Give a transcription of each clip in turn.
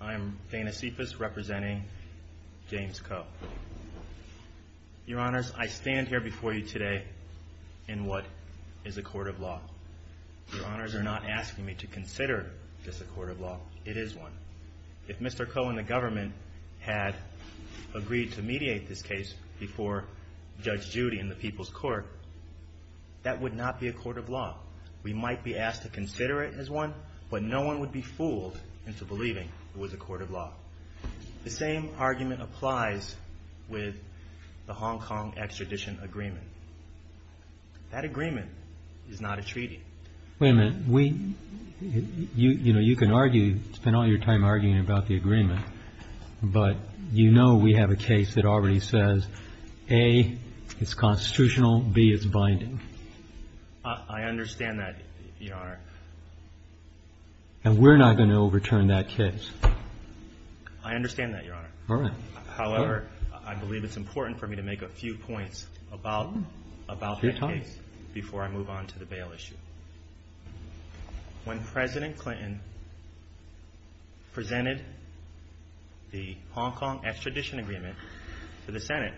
I am Dana Cephas representing James Coe. Your Honors, I stand here before you today in what is a court of law. Your Honors are not asking me to consider this a court of law. It is one. If Mr. Coe and the government had agreed to mediate this case before Judge Judy in but no one would be fooled into believing it was a court of law. The same argument applies with the Hong Kong extradition agreement. That agreement is not a treaty. Wait a minute. You can spend all your time arguing about the agreement, but you know we have a case that already says, A, it's constitutional, B, it's binding. I understand that, Your Honor. And we're not going to overturn that case. I understand that, Your Honor. However, I believe it's important for me to make a few points about the case before I move on to the bail issue. When President Clinton presented the Hong Kong extradition agreement to the Senate,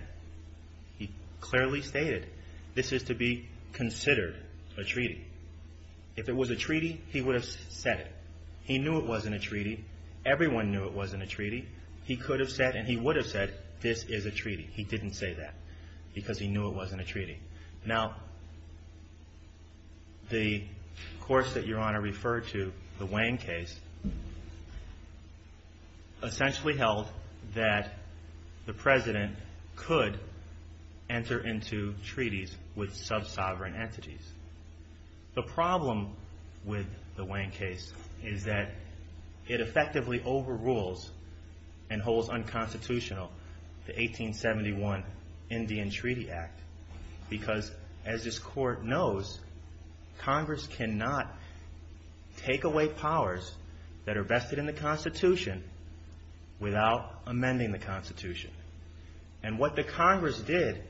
he clearly stated this is to be considered a treaty. If it was a treaty, he would have said it. He knew it wasn't a treaty. Everyone knew it wasn't a treaty. He could have said, and he would have said, this is a treaty. He didn't say that because he knew it wasn't a treaty. Now, the course that Your Honor referred to, the Wayne case, essentially held that the President could enter into treaties with sub-sovereign entities. The problem with the Wayne case is that it effectively overrules and holds unconstitutional the 1871 Indian Treaty Act because, as this Court knows, Congress cannot take away powers that are vested in the Constitution without amending the Constitution. And what the Congress did,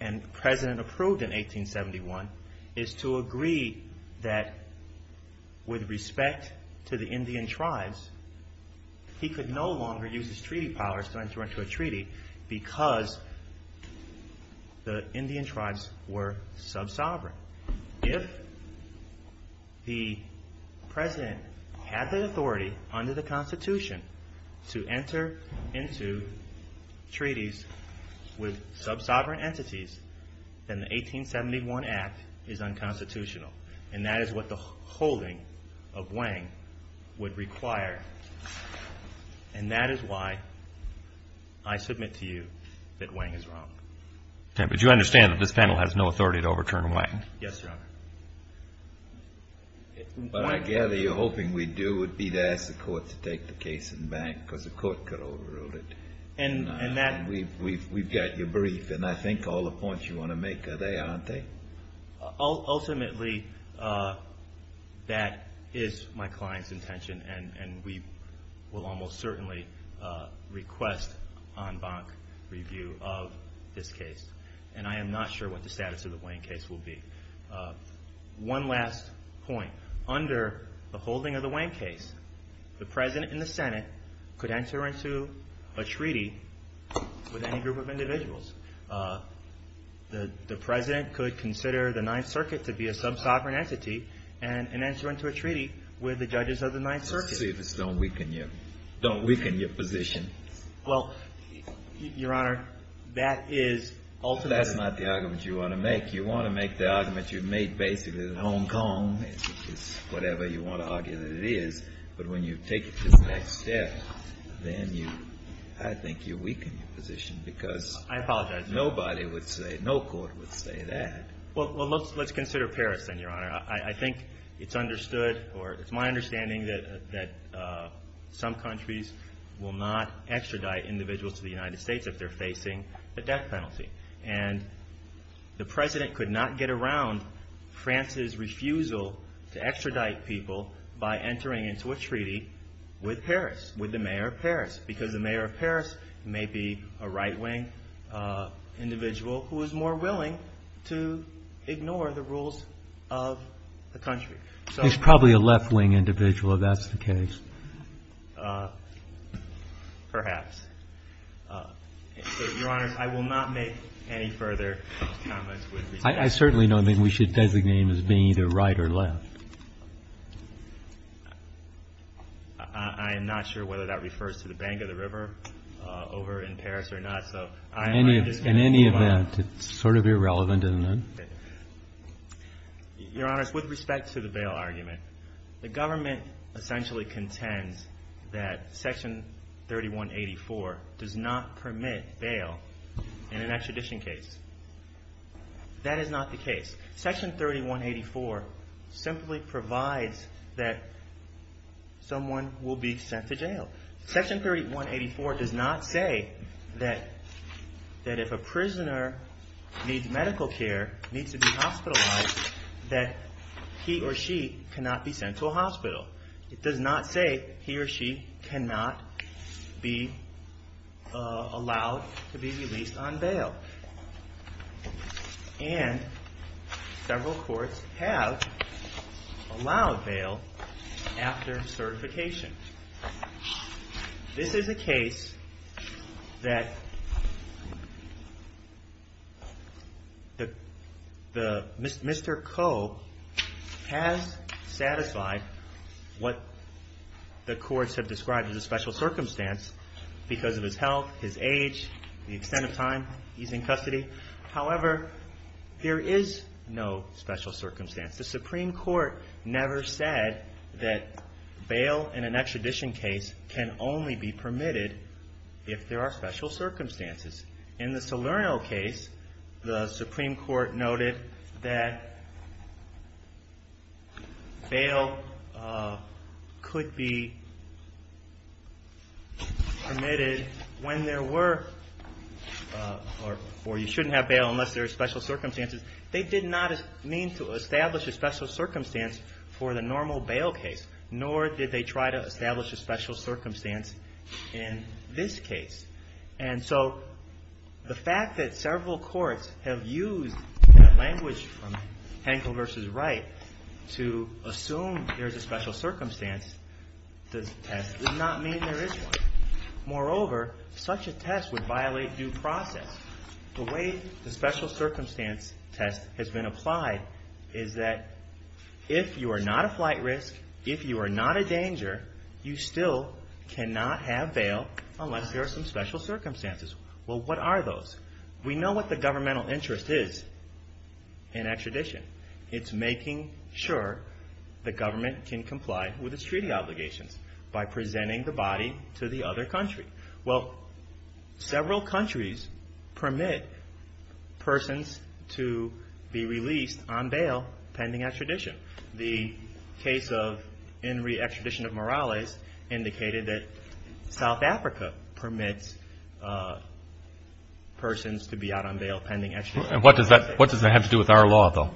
and the President approved in 1871, is to agree that with respect to the Indian tribes, he could no longer use his treaty powers to enter into a treaty because the Indian tribes were sub-sovereign. If the President had the authority under the Constitution to enter into treaties with sub-sovereign entities, then the 1871 Act is unconstitutional. And that is what the holding of Wang would require. And that is why I submit to you that Wang is wrong. Okay, but you understand that this panel has no authority to overturn Wang? Yes, Your Honor. What I gather you're hoping we do would be to ask the Court to take the case in bank because the Court could overrule it. And that We've got your brief, and I think all the points you want to make are there, aren't they? Ultimately, that is my client's intention, and we will almost certainly request en banc review of this case. And I am not sure what the status of the Wang case will be. One last point. Under the holding of the Wang case, the President and the Senate could enter into a treaty with any group of individuals. The President could consider the Ninth Circuit to be a sub-sovereign entity and enter into a treaty with the judges of the Ninth Circuit. Don't weaken your position. Well, Your Honor, that is That's not the argument you want to make. You want to make the argument you've made basically that Hong Kong is whatever you want to argue that it is. But when you take it to the next step, then I think you weaken your position because I apologize. Nobody would say, no court would say that. Well, let's consider Paris then, Your Honor. I think it's understood, or it's my understanding that some countries will not extradite individuals to the United States if they're facing a death penalty. And the President could not get around France's refusal to extradite people by entering into a treaty with Paris, with the mayor of Paris, because the mayor of Paris may be a right-wing individual who is more willing to ignore the rules of the country. He's probably a left-wing individual if that's the case. Perhaps. Your Honor, I will not make any further comments. I certainly don't think we should designate him as being either right or left. I am not sure whether that refers to the bank of the river over in Paris or not. In any event, it's sort of irrelevant. Your Honor, with respect to the bail argument, the government essentially contends that Section 3184 does not permit bail in an extradition case. That is not the case. Section 3184 simply provides that someone will be sent to jail. Section 3184 does not say that if a prisoner needs medical care, needs to be hospitalized, that he or she cannot be sent to a hospital. It does not say he or she cannot be allowed to be released on bail. And several courts have allowed bail after certification. This is a case that Mr. Coe has satisfied what the courts have described as a special circumstance because of his health, his age, the extent of time he's in custody. However, there is no special circumstance. The Supreme Court never said that bail in an extradition case can only be permitted if there are special circumstances. In the Salerno case, the Supreme Court noted that bail could be permitted when there were or you shouldn't have bail unless there are special circumstances. They did not mean to establish a special circumstance for the normal bail case, nor did they try to establish a special circumstance in this case. And so the fact that several courts have used language from Hankel v. Wright to assume there's a special circumstance to this test does not mean there is one. Moreover, such a test would violate due process. The way the special circumstance test has been applied is that if you are not a flight risk, if you are not a danger, you still cannot have bail unless there are some special circumstances. Well, what are those? We know what the governmental interest is in extradition. It's making sure the government can comply with its treaty obligations by presenting the body to the other country. Well, several countries permit persons to be released on bail pending extradition. The case of Enri extradition of Morales indicated that South Africa permits persons to be out on bail pending extradition. What does that have to do with our law, though?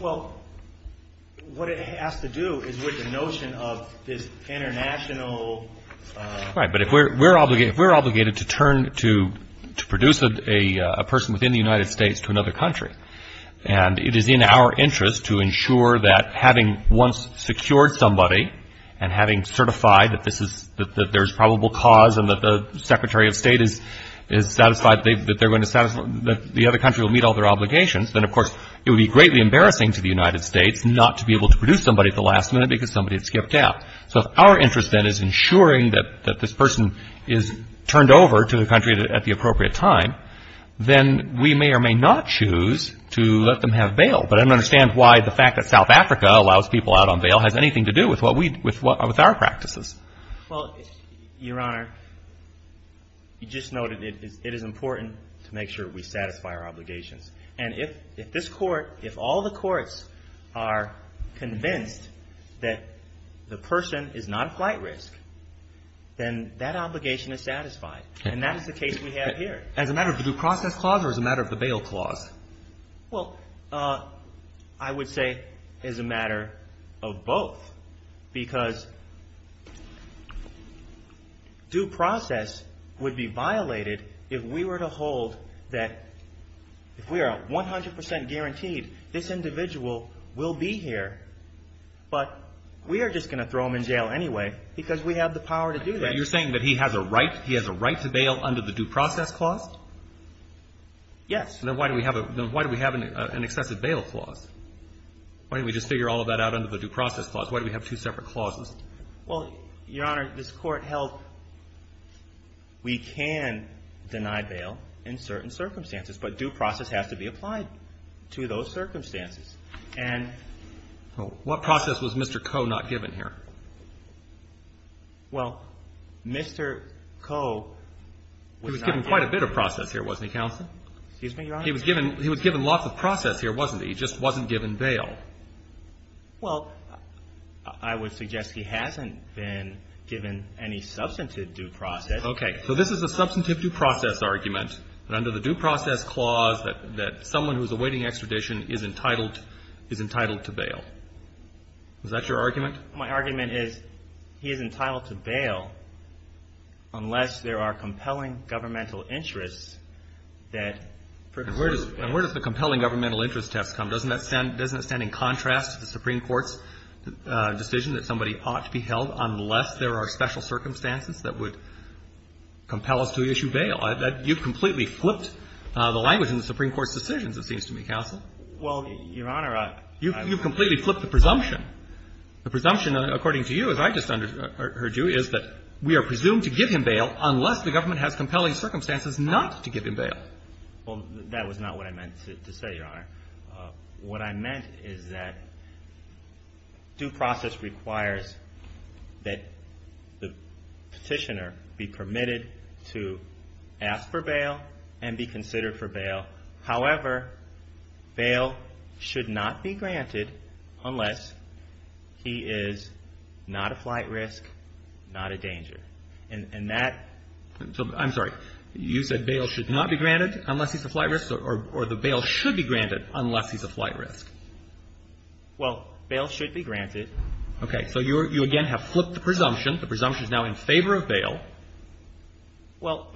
Well, what it has to do is with the notion of this international Right. But if we're obligated to turn to produce a person within the United States to another country, and it is in our interest to ensure that having once secured somebody and having certified that there's probable cause and that the Secretary of State is satisfied that the other country will meet all their obligations, then, of course, it would be greatly embarrassing to the United States not to be able to produce somebody at the last minute because somebody had skipped out. So if our interest, then, is ensuring that this person is turned over to the country at the appropriate time, then we may or may not choose to let them have bail. But I don't understand why the fact that South Africa allows people out on bail has anything to do with our practices. Well, Your Honor, you just noted it is important to make sure we satisfy our obligations. And if this court, if all the courts are convinced that the person is not a flight risk, then that obligation is satisfied. And that is the case we have here. As a matter of the due process clause or as a matter of the bail clause? Well, I would say as a matter of both because due process would be violated if we were to hold that if we are 100 percent guaranteed this individual will be here, but we are just going to throw him in jail anyway because we have the power to do that. But you're saying that he has a right, he has a right to bail under the due process clause? Yes. Then why do we have an excessive bail clause? Why don't we just figure all of that out under the due process clause? Why do we have two separate clauses? Well, Your Honor, this court held we can deny bail in certain circumstances, but due process has to be applied to those circumstances. And what process was Mr. Coe not given here? Well, Mr. Coe was not given. He was given quite a bit of process here, wasn't he, Counsel? Excuse me, Your Honor? He was given lots of process here, wasn't he? He just wasn't given bail. Well, I would suggest he hasn't been given any substantive due process. Okay. So this is a substantive due process argument that under the due process clause that someone who is awaiting extradition is entitled to bail. Is that your argument? My argument is he is entitled to bail unless there are compelling governmental interests that preclude bail. And where does the compelling governmental interest test come? Doesn't that stand in contrast to the Supreme Court's decision that somebody ought to be held unless there are special circumstances that would compel us to issue bail? You've completely flipped the language in the Supreme Court's decisions, it seems to me, Counsel. Well, Your Honor, I — You've completely flipped the presumption. The presumption, according to you, as I just heard you, is that we are presumed to give him bail unless the government has compelling circumstances not to give him bail. Well, that was not what I meant to say, Your Honor. What I meant is that due process requires that the petitioner be permitted to ask for bail and be considered for bail. However, bail should not be granted unless he is not a flight risk, not a danger. And that — I'm sorry. You said bail should not be granted unless he's a flight risk, or the bail should be granted unless he's a flight risk. Well, bail should be granted. Okay. So you again have flipped the presumption. The presumption is now in favor of bail. Well,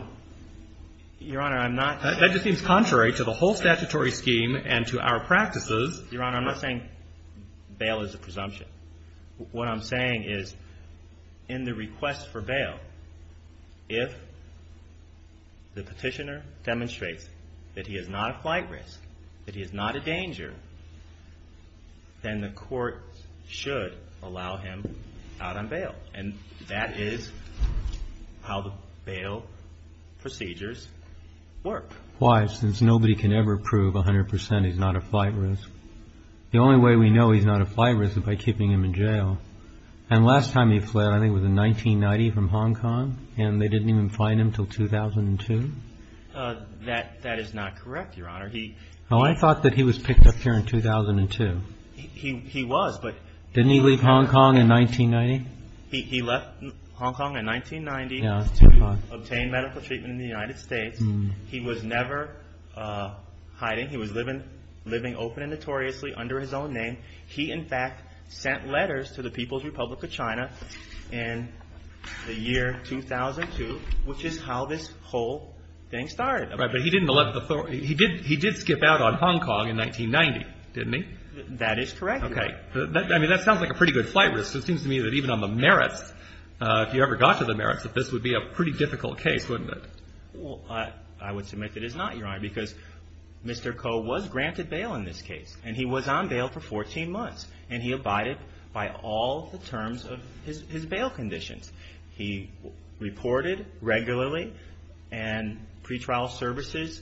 Your Honor, I'm not — That just seems contrary to the whole statutory scheme and to our practices. Your Honor, I'm not saying bail is a presumption. What I'm saying is in the request for bail, if the petitioner demonstrates that he is not a flight risk, that he is not a danger, then the court should allow him out on bail. And that is how the bail procedures work. Why? Since nobody can ever prove 100% he's not a flight risk. The only way we know he's not a flight risk is by keeping him in jail. And last time he fled, I think it was in 1990 from Hong Kong, and they didn't even find him until 2002? That is not correct, Your Honor. I thought that he was picked up here in 2002. He was, but — Didn't he leave Hong Kong in 1990? He left Hong Kong in 1990 to obtain medical treatment in the United States. He was never hiding. He was living open and notoriously under his own name. He, in fact, sent letters to the People's Republic of China in the year 2002, which is how this whole thing started. Right, but he didn't — he did skip out on Hong Kong in 1990, didn't he? That is correct. Okay. I mean, that sounds like a pretty good flight risk. It seems to me that even on the merits, if you ever got to the merits, that this would be a pretty difficult case, wouldn't it? Well, I would submit that it is not, Your Honor, because Mr. Koh was granted bail in this case, and he was on bail for 14 months. And he abided by all the terms of his bail conditions. He reported regularly, and pretrial services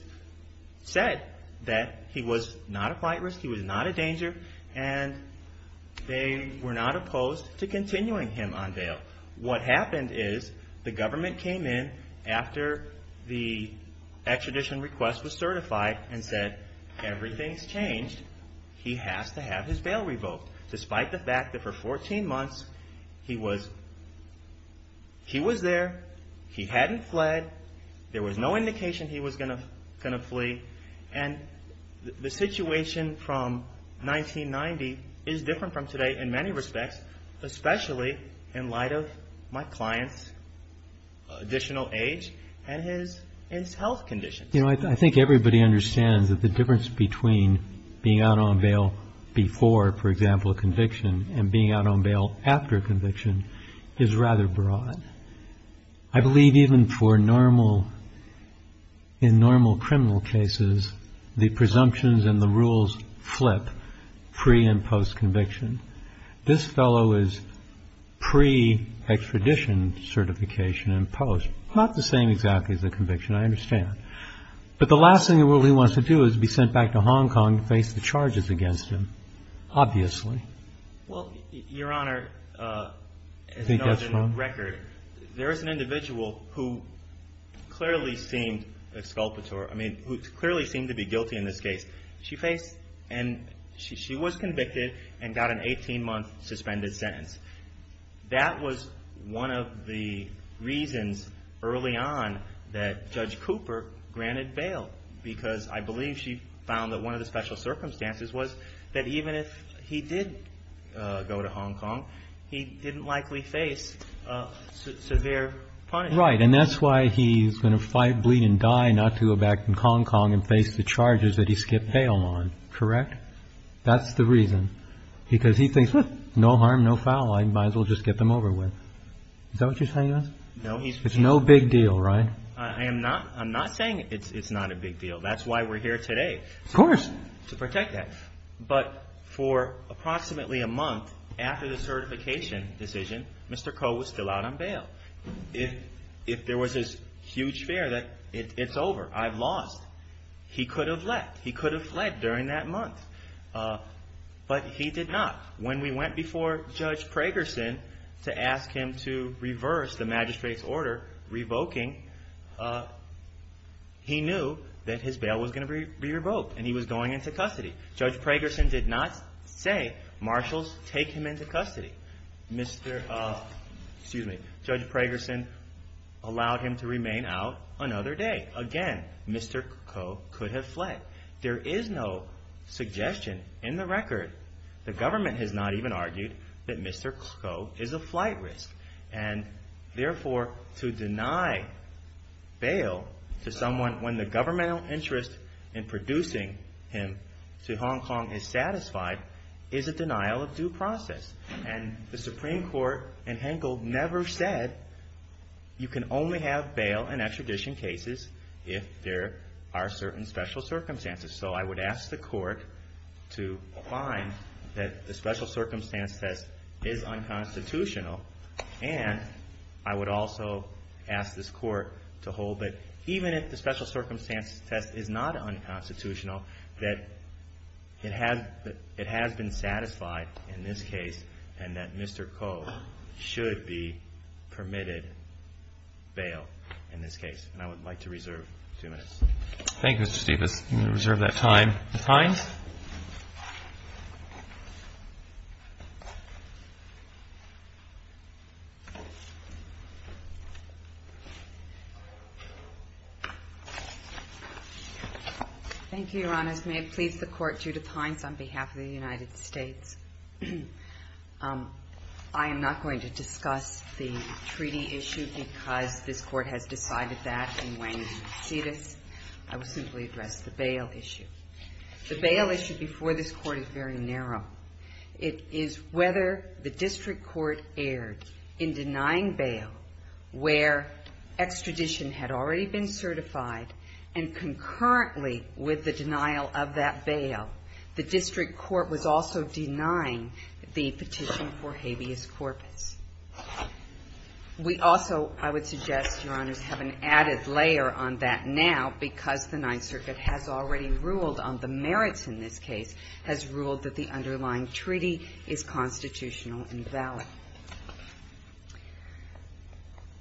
said that he was not a flight risk, he was not a danger, and they were not opposed to continuing him on bail. What happened is the government came in after the extradition request was certified and said, everything's changed, he has to have his bail revoked, despite the fact that for 14 months he was there, he hadn't fled, there was no indication he was going to flee. And the situation from 1990 is different from today in many respects, especially in light of my client's additional age and his health conditions. You know, I think everybody understands that the difference between being out on bail before, for example, conviction, and being out on bail after conviction is rather broad. I believe even for normal, in normal criminal cases, the presumptions and the rules flip pre- and post-conviction. This fellow is pre-extradition certification and post, not the same exactly as the conviction, I understand. But the last thing the rule he wants to do is be sent back to Hong Kong to face the charges against him, obviously. Well, Your Honor, there is an individual who clearly seemed to be guilty in this case. She was convicted and got an 18-month suspended sentence. That was one of the reasons early on that Judge Cooper granted bail, because I believe she found that one of the special circumstances was that even if he did go to Hong Kong, he didn't likely face severe punishment. Right, and that's why he's going to fight, bleed, and die not to go back to Hong Kong and face the charges that he skipped bail on, correct? That's the reason. Because he thinks, no harm, no foul, I might as well just get them over with. Is that what you're saying? No. It's no big deal, right? I'm not saying it's not a big deal. That's why we're here today. Of course. To protect that. But for approximately a month after the certification decision, Mr. Koh was still out on bail. If there was this huge fear that it's over, I've lost, he could have fled during that month. But he did not. When we went before Judge Pragerson to ask him to reverse the magistrate's order revoking, he knew that his bail was going to be revoked and he was going into custody. Judge Pragerson did not say, marshals, take him into custody. Judge Pragerson allowed him to remain out another day. Again, Mr. Koh could have fled. There is no suggestion in the record, the government has not even argued, that Mr. Koh is a flight risk. And therefore, to deny bail to someone when the governmental interest in producing him to Hong Kong is satisfied, is a denial of due process. And the Supreme Court in Henkel never said you can only have bail and extradition cases if there are certain special circumstances. So I would ask the court to find that the special circumstance test is unconstitutional. And I would also ask this court to hold that even if the special circumstance test is not unconstitutional, that it has been satisfied in this case and that Mr. Koh should be permitted bail in this case. And I would like to reserve two minutes. Thank you, Mr. Stephens. I'm going to reserve that time. Ms. Hines? Thank you, Your Honors. May it please the court, Judith Hines on behalf of the United States. I am not going to discuss the treaty issue because this court has decided that. And when you see this, I will simply address the bail issue. The bail issue before this court is very narrow. It is whether the district court erred in denying bail where extradition had already been certified and concurrently with the denial of that bail, the district court was also denying the petition for habeas corpus. We also, I would suggest, Your Honors, have an added layer on that now because the Ninth Circuit has ruled on the merits in this case, has ruled that the underlying treaty is constitutional and valid.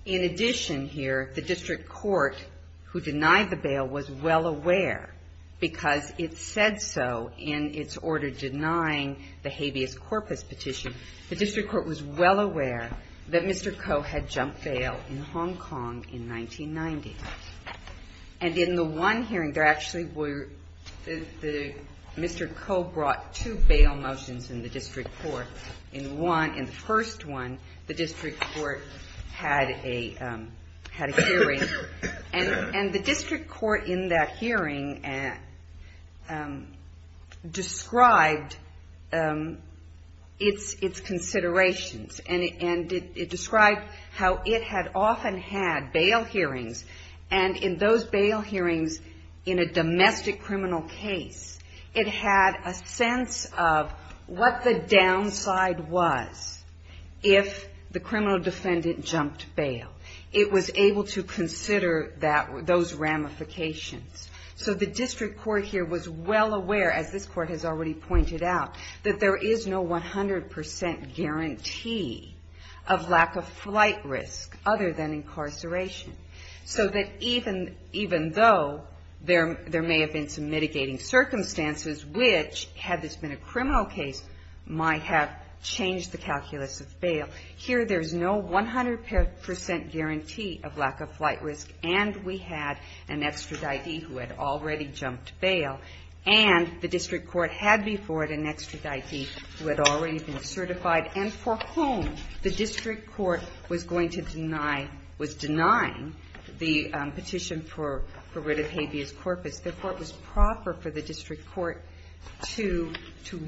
In addition here, the district court who denied the bail was well aware because it said so in its order denying the habeas corpus petition. The district court was well aware that Mr. Koh had jumped bail in Hong Kong in 1990. And in the one hearing, there actually were, Mr. Koh brought two bail motions in the district court. In one, in the first one, the district court had a hearing. And the district court in that hearing described its considerations. And it described how it had often had bail hearings, and in those bail hearings, in a domestic criminal case, it had a sense of what the downside was if the criminal defendant jumped bail. It was able to consider those ramifications. So the district court here was well aware, as this Court has already pointed out, that there is no 100 percent guarantee of lack of flight risk other than incarceration. So that even though there may have been some mitigating circumstances, which, had this been a criminal case, might have changed the calculus of bail, here there's no 100 percent guarantee of lack of flight risk, and we had an extraditee who had already jumped bail, and the district court had before it an extraditee who had already been certified, and for whom the district court was going to deny, was denying the petition for rid of habeas corpus. Therefore, it was proper for the district court to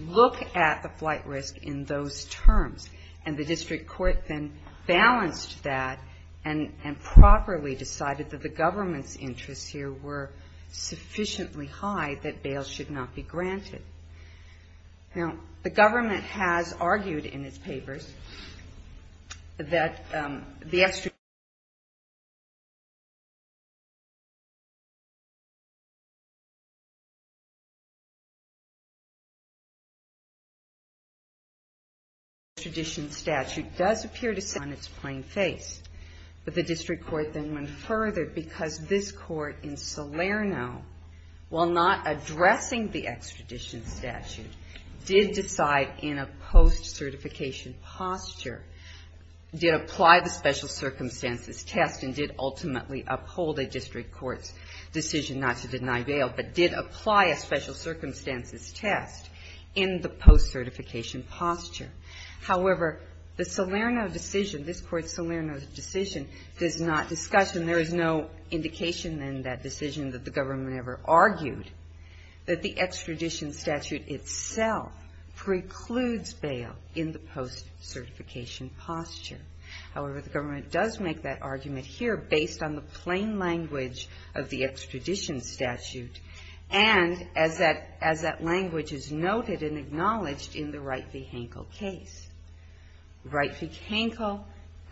look at the flight risk in those terms. And the district court then balanced that and properly decided that the government's interests here were sufficiently high that bail should not be granted. Now, the government has argued in its papers that the extraditee, while not addressing the extradition statute, did decide in a post-certification posture, did apply the special circumstances test, and did ultimately uphold a district court's decision not to deny bail, but did apply a special circumstances test in the post-certification posture. However, the Salerno decision, this Court's Salerno decision, does not discuss, and there is no indication in that decision that the government ever argued, that the extradition statute itself precludes bail in the post-certification posture. However, the government does make that argument here based on the plain language of the extradition statute, and as that language is noted and acknowledged in the Wright v. Hankel case. Wright v. Hankel,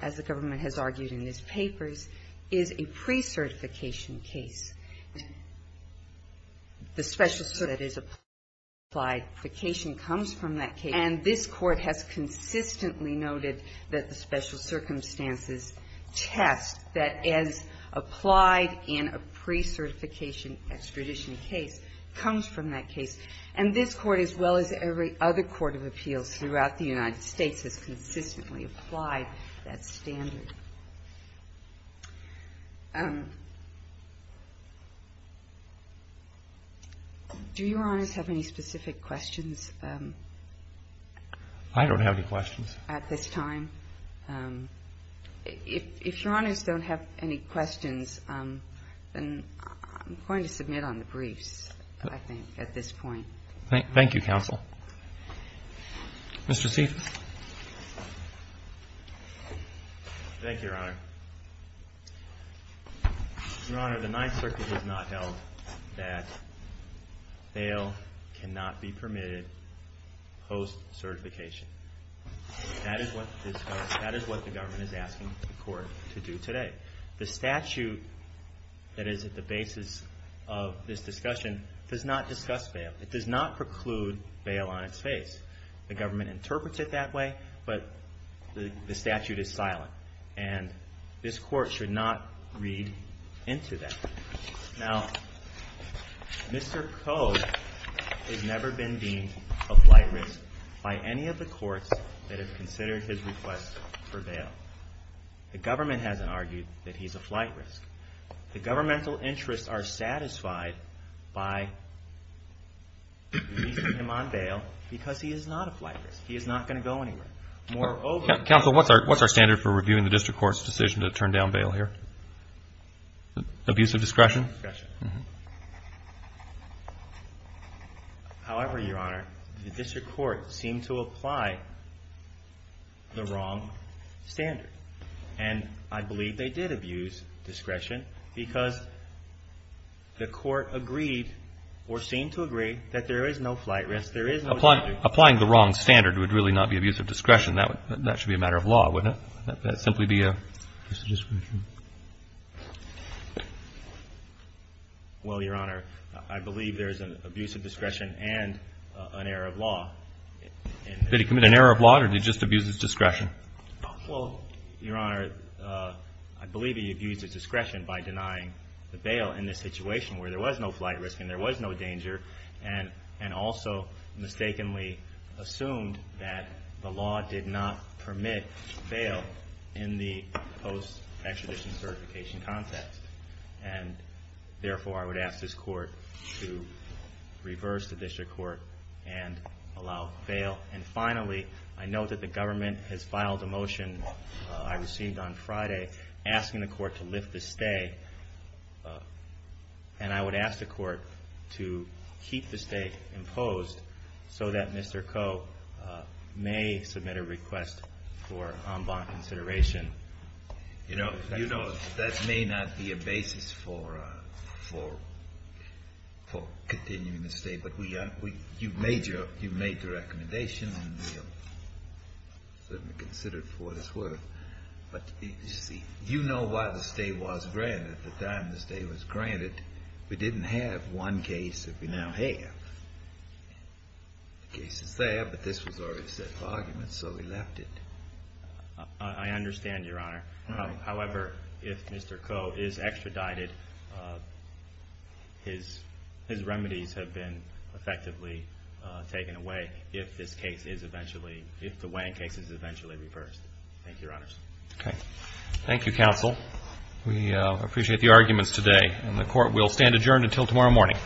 as the government has argued in its papers, is a pre-certification case. The special that is applied for certification comes from that case, and this Court has consistently noted that the special circumstances test that is applied in a pre-certification extradition case comes from that case. And this Court, as well as every other court of appeals throughout the United States, has consistently applied that standard. Do Your Honors have any specific questions? I don't have any questions. At this time. If Your Honors don't have any questions, then I'm going to submit on the briefs, I think, at this point. Thank you, counsel. Mr. Stiefel. Thank you, Your Honor. Your Honor, the Ninth Circuit has not held that bail cannot be permitted post-certification. That is what the government is asking the Court to do today. The statute that is at the basis of this discussion does not discuss bail. It does not preclude bail on its face. The government interprets it that way, but the statute is silent, and this Court should not read into that. Now, Mr. Code has never been deemed a flight risk by any of the courts that have considered his request for bail. The government hasn't argued that he's a flight risk. The governmental interests are satisfied by releasing him on bail because he is not a flight risk. He is not going to go anywhere. Counsel, what's our standard for reviewing the District Court's decision to turn down bail here? Abuse of discretion? Discretion. However, Your Honor, the District Court seemed to apply the wrong standard, and I believe they did abuse discretion because the Court agreed or seemed to agree that there is no flight risk, there is no statute. Applying the wrong standard would really not be abuse of discretion. That should be a matter of law, wouldn't it? That would simply be abuse of discretion. Well, Your Honor, I believe there is an abuse of discretion and an error of law. Did he commit an error of law, or did he just abuse his discretion? Well, Your Honor, I believe he abused his discretion by denying the bail in this situation where there was no flight risk and there was no danger, and also mistakenly assumed that the law did not permit bail in the post-extradition certification context. Therefore, I would ask this Court to reverse the District Court and allow bail. And finally, I note that the government has filed a motion I received on Friday asking the Court to lift the stay, and I would ask the Court to keep the stay imposed so that Mr. Koh may submit a request for en banc consideration. You know, that may not be a basis for continuing the stay, but you've made the recommendation and we'll certainly consider it for what it's worth. But, you see, you know why the stay was granted. At the time the stay was granted, we didn't have one case that we now have. The case is there, but this was already set for argument, so we left it. I understand, Your Honor. However, if Mr. Koh is extradited, his remedies have been effectively taken away if this case is eventually, if the Wang case is eventually reversed. Thank you, Your Honors. Okay. Thank you, Counsel. We appreciate the arguments today, and the Court will stand adjourned until tomorrow morning.